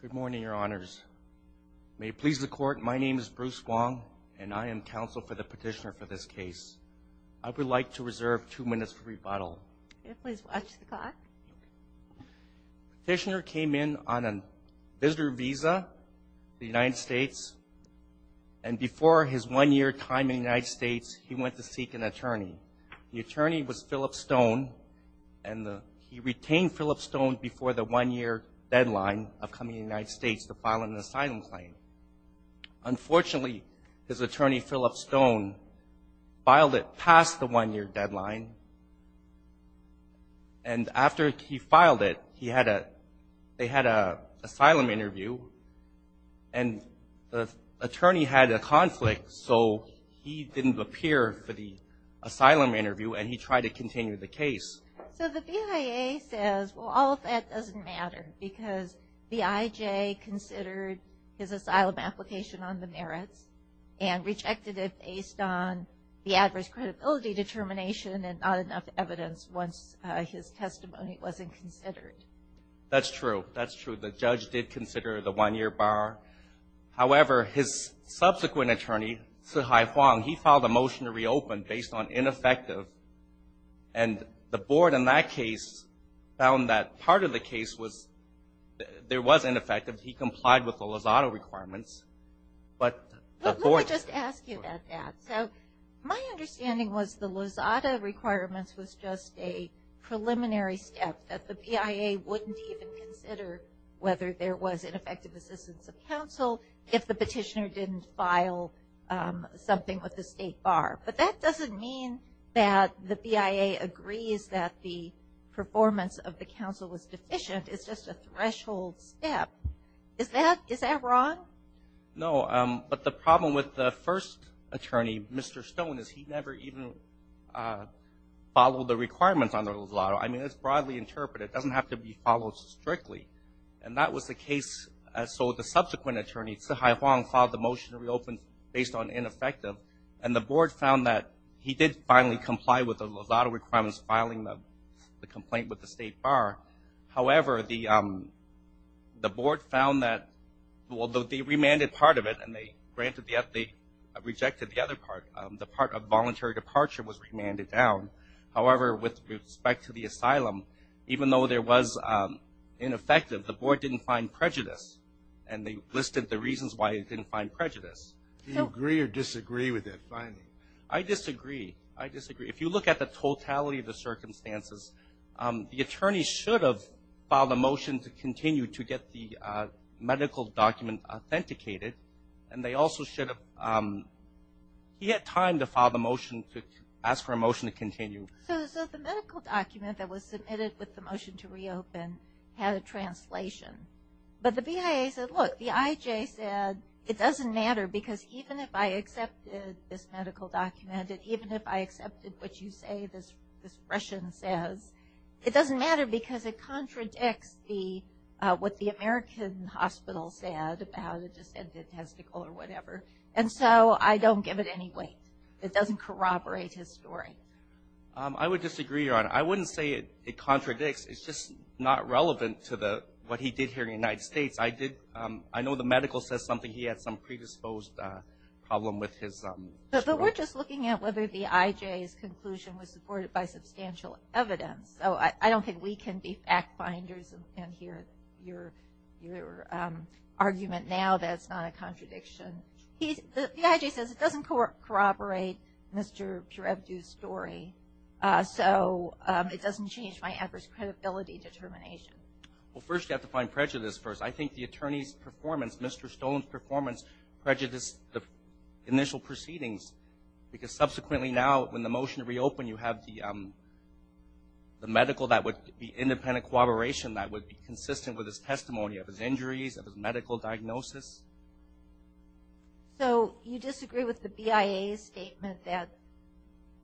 Good morning, Your Honors. May it please the Court, my name is Bruce Wong and I am counsel for the petitioner for this case. I would like to reserve two minutes for rebuttal. Please watch the clock. The petitioner came in on a visitor visa to the United States and before his one-year time in the United States, he went to seek an attorney. The attorney was Phillip Stone and he retained Phillip Stone before the one-year deadline of coming to the United States to file an asylum claim. Unfortunately, his attorney, Phillip Stone, filed it past the one-year deadline and after he filed it, they had an asylum interview and the attorney had a conflict so he didn't appear for the asylum interview and he tried to continue the case. So the BIA says, well, all of that doesn't matter because the IJ considered his asylum application on the merits and rejected it based on the adverse credibility determination and not enough evidence once his testimony wasn't considered. That's true, the judge did consider the one-year bar. However, his subsequent attorney, Sihai Huang, he filed a motion to reopen based on ineffective and the board in that case found that part of the case was, there was ineffective. He complied with the Lozada requirements, but the board Let me just ask you about that. So my understanding was the Lozada requirements was just a preliminary step that the BIA wouldn't even consider whether there was ineffective assistance of counsel if the petitioner didn't file something with the state bar. But that doesn't mean that the BIA agrees that the performance of the counsel was deficient. It's just a threshold step. Is that wrong? No, but the problem with the first attorney, Mr. Stone, is he never even followed the requirements on the Lozada. I mean, it's broadly interpreted. It doesn't have to be followed strictly. And that was the case. So the subsequent attorney, Sihai Huang, filed the motion to reopen based on ineffective and the board found that he did finally comply with the Lozada requirements filing the complaint with the state bar. However, the board found that, well, they remanded part of it and they granted the, they rejected the other part. The part of voluntary departure was remanded down. However, with respect to the asylum, even though there was ineffective, the board didn't find prejudice and they listed the reasons why it didn't find prejudice. Do you agree or disagree with that finding? I disagree. I disagree. If you look at the totality of the circumstances, the attorney should have filed a motion to continue to get the medical document authenticated and they also should have, he had time to file the motion, to ask for a motion to continue. So the medical document that was submitted with the motion to reopen had a translation. But the BIA said, look, the IJ said it doesn't matter because even if I accepted this medical document and even if I accepted what you say, this Russian says, it doesn't matter because it contradicts the, what the American hospital said about a descended testicle or whatever. And so I don't give it any weight. It doesn't corroborate his story. I would disagree, Your Honor. I wouldn't say it contradicts. It's just not relevant to the, what he did here in the United States. I did, I know the medical says something, he had some predisposed problem with his. But we're just looking at whether the IJ's conclusion was supported by substantial evidence. So I don't think we can be fact finders and hear your, your argument now that it's not a contradiction. He's, the IJ says it doesn't corroborate Mr. Pirevdu's story. So it doesn't change my adverse credibility determination. Well, first you have to find prejudice first. I think the attorney's performance, Mr. Stone's performance prejudiced the initial proceedings because subsequently now when the motion reopened you have the, the medical that would be independent corroboration that would be consistent with his testimony of his injuries, of his medical diagnosis. So you disagree with the BIA's statement that,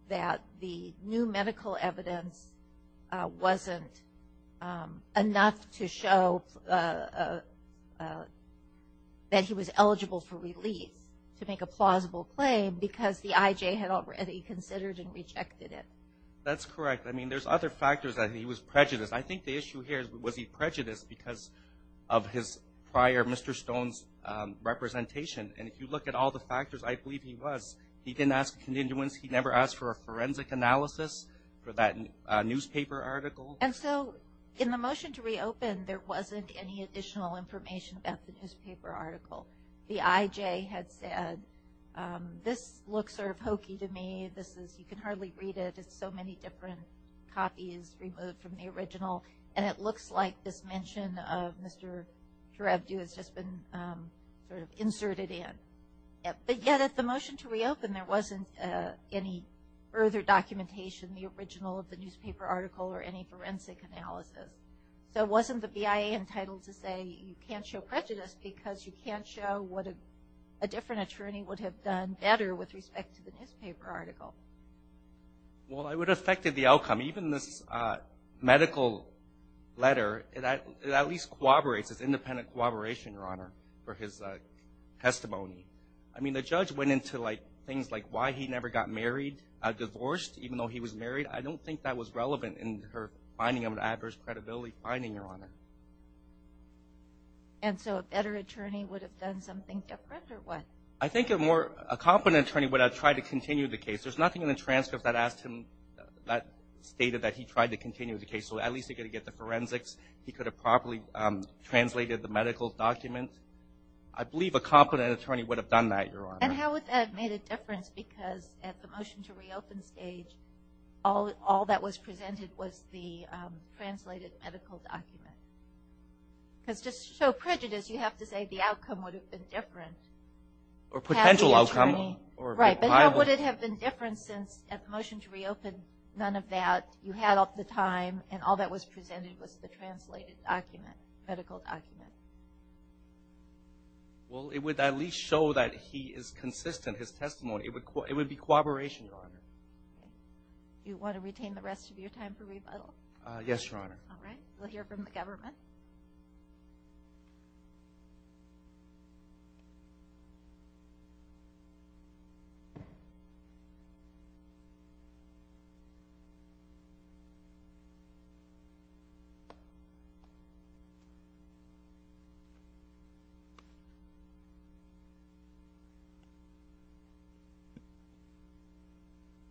that the new medical evidence wasn't enough to show that he was eligible for relief to make a plausible claim because the IJ had already considered and rejected it. That's correct. I mean, there's other factors that he was prejudiced. I think the issue here is was he prejudiced because of his prior, Mr. Stone's representation. And if you look at all the factors, I believe he was. He didn't ask a continuance. He never asked for a forensic analysis for that newspaper article. And so in the motion to reopen, there wasn't any additional information about the newspaper article. The IJ had said, this looks sort of hokey to me. This is, you can hardly read it. It's so many different copies removed from the original. And it looks like this mention of Mr. Kharabdoo has just been sort of inserted in. But yet at the motion to reopen, there wasn't any further documentation, the original of the newspaper article or any forensic analysis. So it wasn't the BIA entitled to say you can't show prejudice because you can't show what a different attorney would have done better with respect to the newspaper article. Well, it would have affected the outcome. Even this medical letter, it at least corroborates his independent corroboration, Your Honor, for his testimony. I mean, the judge went into things like why he never got married, divorced, even though he was married. I don't think that was relevant in her finding of an adverse credibility finding, Your Honor. And so a better attorney would have done something different or what? I think a more, a competent attorney would have tried to continue the case. There's nothing in the transcript that asked him, that stated that he tried to continue the case. So at least he could have get the forensics. He could have properly translated the medical document. I believe a competent attorney would have done that, Your Honor. And how would that have made a difference? Because at the motion to reopen stage, all that was presented was the translated medical document. Because to show prejudice, you have to say the outcome would have been different. Or potential outcome. Right. But how would it have been different since at the motion to reopen, none of that, you had all the time, and all that was presented was the translated document, medical document. Well, it would at least show that he is consistent, his testimony. It would be corroboration, Your Honor. Do you want to retain the rest of your time for rebuttal? Yes, Your Honor. All right. We'll hear from the government.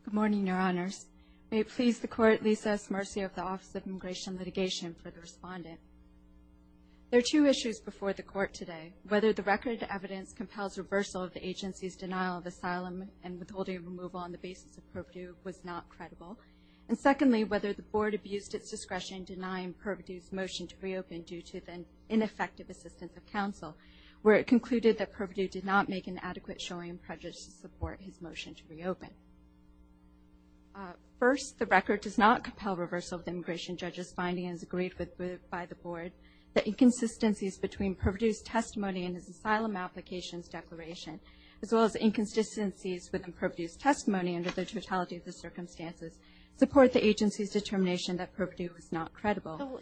Good morning, Your Honors. May it please the court, Lisa S. Murcia of the Office of Immigration Litigation for the respondent. There are two issues before the court today. Whether the record evidence compels reversal of the agency's denial of asylum and withholding removal on the basis of purview was not credible. And secondly, whether the board abused its discretion denying Pervitieu's motion to reopen due to the ineffective assistance of counsel, where it concluded that Pervitieu did not make an adequate showing of prejudice to support his First, the record does not compel reversal of the immigration judge's findings agreed with by the board. The inconsistencies between Pervitieu's testimony and his asylum applications declaration, as well as inconsistencies within Pervitieu's testimony under the totality of the circumstances, support the agency's determination that Pervitieu was not credible.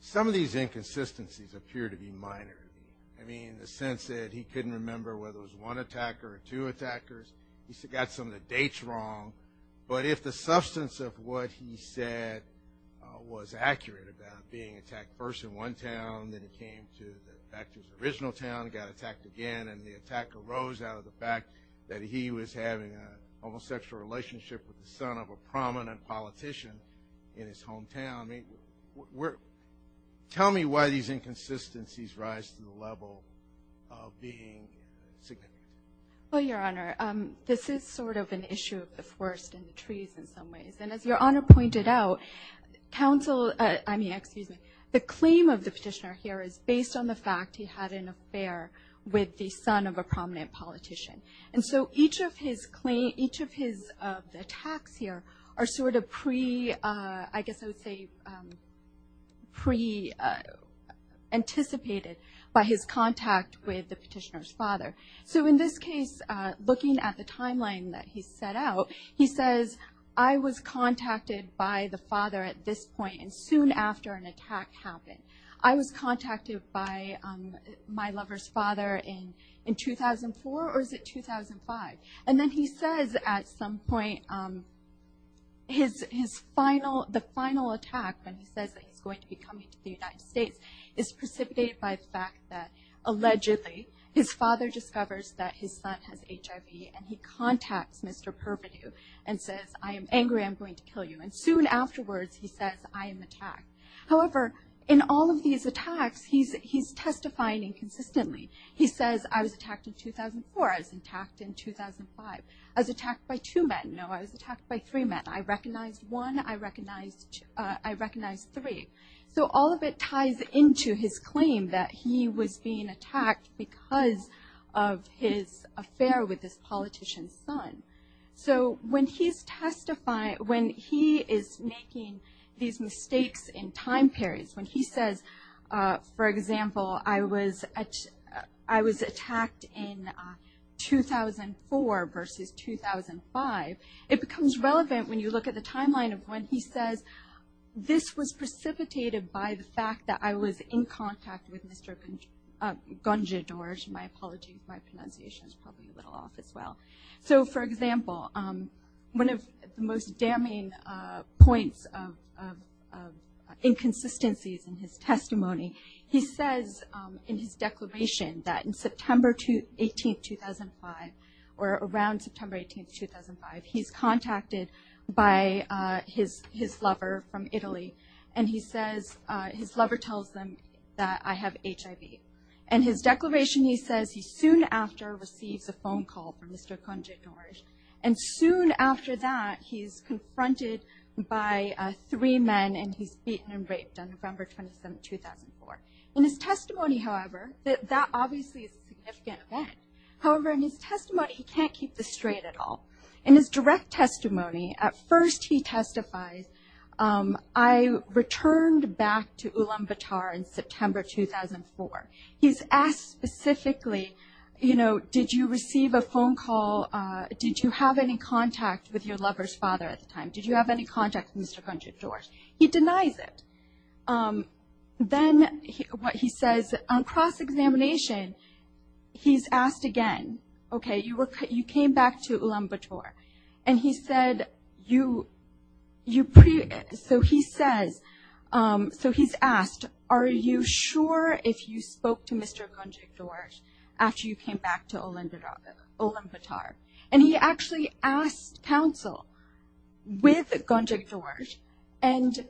Some of these inconsistencies appear to be minor. I mean, in the sense that he couldn't remember whether it was one attacker or two attackers. He got some of the dates wrong. But if the substance of what he said was accurate about being attacked first in one town, then it came to the fact it was the original town, got attacked again, and the attack arose out of the fact that he was having a homosexual relationship with the son of a prominent politician in his hometown. I mean, tell me why these inconsistencies rise to the level of being significant. Well, Your Honor, this is sort of an issue of the forest and the trees in some ways. And as Your Honor pointed out, counsel, I mean, excuse me, the claim of the petitioner here is based on the fact he had an affair with the son of a prominent politician. And so each of his attacks here are sort of pre, I guess I would say, pre-anticipated by his contact with the petitioner's father. So in this case, looking at the timeline that he set out, he says, I was contacted by the father at this point and soon after an attack happened. I was contacted by my lover's father in 2004, or is it 2005? And then he says at some point the final attack, when he says that he's going to be coming to the United States, is precipitated by the fact that allegedly his father discovers that his son has HIV and he contacts Mr. Perpetu and says, I am angry, I'm going to kill you. And soon afterwards, he says, I am attacked. However, in all of these attacks, he's testifying inconsistently. He says, I was attacked in 2004. I was attacked in 2005. I was attacked by two men. No, I was attacked by three men. I recognized one. I recognized three. So all of it ties into his claim that he was being attacked because of his affair with this politician's son. So when he's testifying, when he is making these mistakes in time periods, when he says, for example, I was attacked in 2004 versus 2005, it becomes relevant when you look at the timeline of when he says, this was precipitated by the fact that I was in contact with Mr. Gonjadorge. My apologies, my pronunciation is probably a little off as well. So for example, one of the most damning points of inconsistencies in his testimony, he says in his declaration that in September 18, 2005, or around September 18, 2005, he's contacted by his lover from Italy. And he says, his lover tells them that I have HIV. And his declaration, he says, he soon after receives a phone call from Mr. Gonjadorge. And soon after that, he's confronted by three men and he's beaten and raped on November 27, 2004. In his testimony, however, that obviously is a significant event. However, in his testimony, he can't keep this straight at all. In his direct testimony, at first he testifies, I returned back to Ulaanbaatar in September 2004. He's asked specifically, did you receive a phone call? Did you have any contact with your lover's father at the time? Did you have any contact with Mr. Gonjadorge? He denies it. Then what he says on cross-examination, he's asked again, okay, you came back to Ulaanbaatar. And he said, so he says, so he's asked, are you sure if you spoke to Mr. Gonjadorge after you came back to Ulaanbaatar? And he actually asked counsel with Gonjadorge, and he denied it. And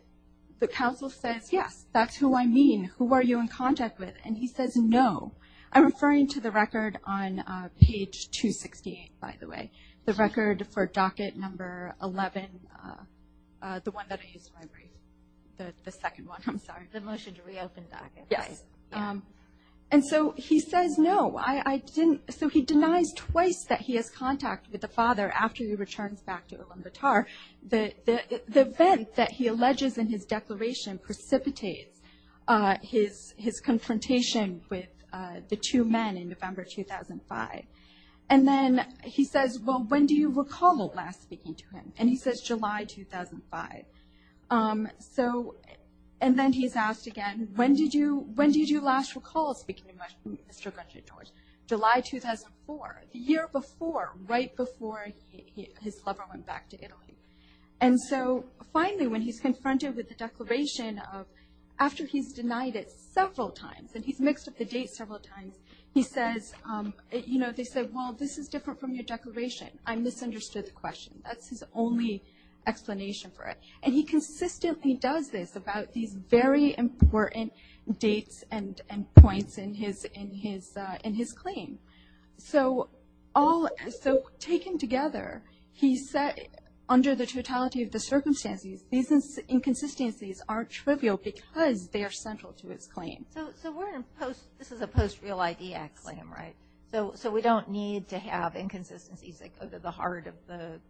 the counsel says, yes, that's who I mean. Who are you in contact with? And he says, no. I'm referring to the record on page 268, by the way, the record for docket number 11, the one that I used in my brief, the second one, I'm sorry. And so he says, no, I didn't. So he denies twice that he has contact with the father after he returns back to Ulaanbaatar. The event that he alleges in his declaration precipitates his confrontation with the two men in November 2005. And then he says, well, when do you recall last speaking to him? And he says July 2005. And then he's asked again, when did you last recall speaking to Mr. Gonjadorge? July 2004, the year before, right before he his lover went back to Italy. And so finally, when he's confronted with the declaration of, after he's denied it several times, and he's mixed up the date several times, he says, you know, they said, well, this is different from your declaration. I misunderstood the question. That's his only explanation for it. And he consistently does this about these very important dates and points in his claim. So all, so taken together, he says, well, he said, under the totality of the circumstances, these inconsistencies are trivial because they are central to his claim. So we're in post, this is a post Real ID Act claim, right? So we don't need to have inconsistencies that go to the heart of the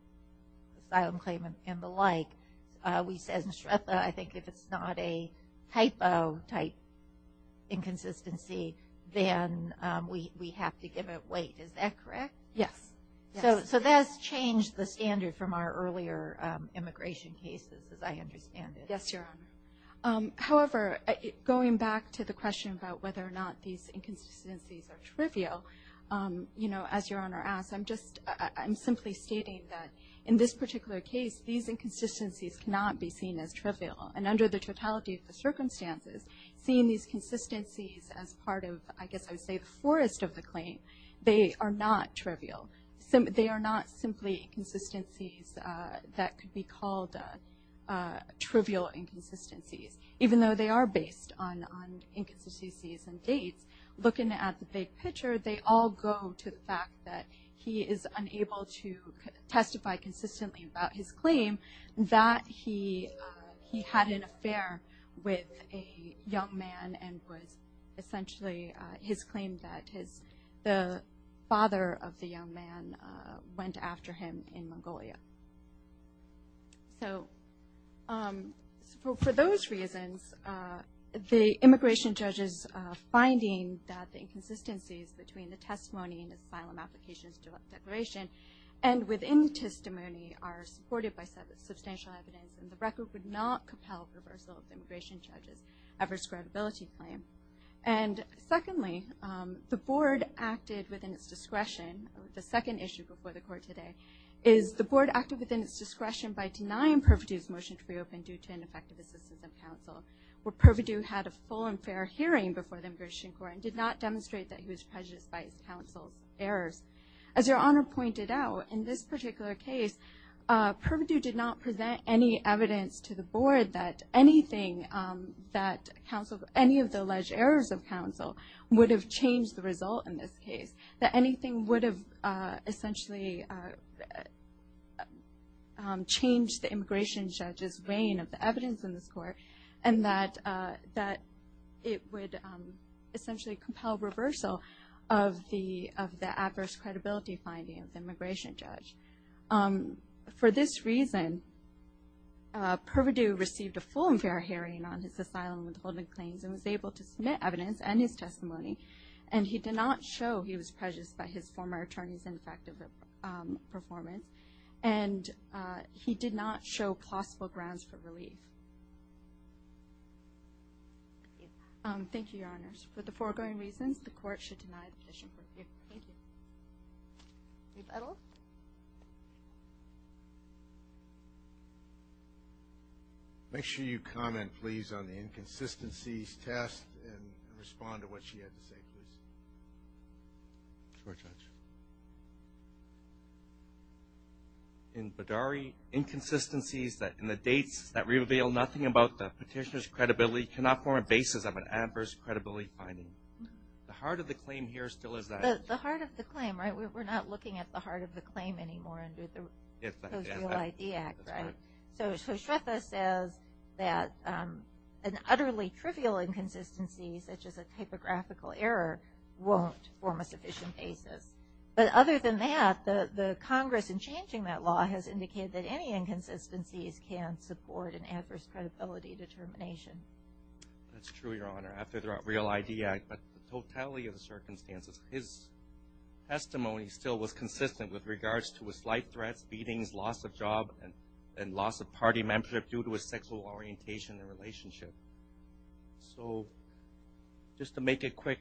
asylum claim and the like. We said in Shrepa, I think if it's not a typo type inconsistency, then we have to give it weight. Is that correct? Yes. So that's changed the standard from our earlier immigration cases, as I understand it. Yes, Your Honor. However, going back to the question about whether or not these inconsistencies are trivial, you know, as Your Honor asked, I'm just, I'm simply stating that in this particular case, these inconsistencies cannot be seen as trivial. And under the totality of the circumstances, seeing these consistencies as part of, I guess I would say, the forest of the claim, they are not trivial. They are not simply inconsistencies that could be called trivial inconsistencies. Even though they are based on inconsistencies and dates, looking at the big picture, they all go to the fact that he is unable to testify consistently about his claim, that he had an affair with a young man and was essentially, his claim that his, the father, the father of the young man went after him in Mongolia. So for those reasons, the immigration judges finding that the inconsistencies between the testimony and the file of malfications, direct declaration, and within the testimony are supported by substantial evidence, and the record would not compel the reversal of the immigration judge's adverse credibility claim. And secondly, the board acted within its discretion, the second issue before the court today, is the board acted within its discretion by denying Pervidew's motion to be opened due to ineffective assistance of counsel, where Pervidew had a full and fair hearing before the immigration court and did not demonstrate that he was prejudiced by his counsel's errors. As Your Honor pointed out, in this particular case, Pervidew did not present any evidence to the board that anything that counsel, any of the alleged errors of counsel, would have changed the result in this case, that anything would have essentially changed the immigration judge's reign of the evidence in this court, and that it would essentially compel reversal of the adverse credibility finding of the immigration judge. For this reason, Pervidew received a full and fair hearing on his asylum withholding claims and was able to submit evidence and his testimony, and he did not show he was prejudiced by his former attorney's ineffective performance, and he did not show plausible grounds for relief. Thank you, Your Honors. For the foregoing reasons, the court should deny the petition. Thank you. Reb Edel? Make sure you comment, please, on the inconsistencies test and respond to what she had to say, please. In Bedari, inconsistencies in the dates that reveal nothing about the petitioner's credibility cannot form a basis of an adverse credibility finding. The heart of the claim here still is that. The heart of the claim, right? We're not looking at the heart of the claim anymore under the Real ID Act, right? So Shreffa says that an utterly trivial inconsistency, such as a typographical error, won't form a sufficient basis. But other than that, the Congress, in changing that law, has indicated that any inconsistencies can support an adverse credibility determination. That's true, Your Honor. After the Real ID Act, but totality of the circumstances, his testimony still was consistent with regards to his life threats, beatings, loss of job, and loss of party membership due to his sexual orientation and relationship. So, just to make it quick,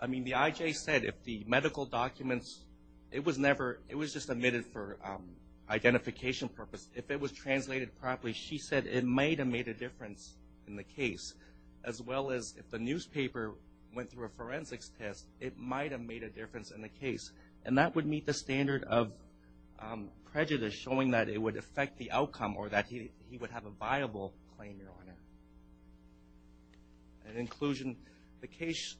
I mean, the IJ said if the medical documents, it was never, it was just omitted for identification purposes. If it was translated properly, she said it might have made a difference in the case, as well as if the newspaper went through a forensics test, it might have made a difference in the case. And that would meet the standard of prejudice, showing that it would affect the outcome, or that he would have a viable claim, Your Honor. In inclusion, the case,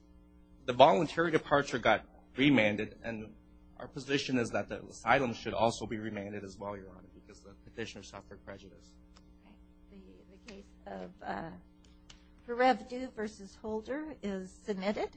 the voluntary departure got remanded, and our position is that the asylum should also be remanded as well, Your Honor, because the petitioner suffered prejudice. Thank you. The case of Hrevdu v. Holder is submitted.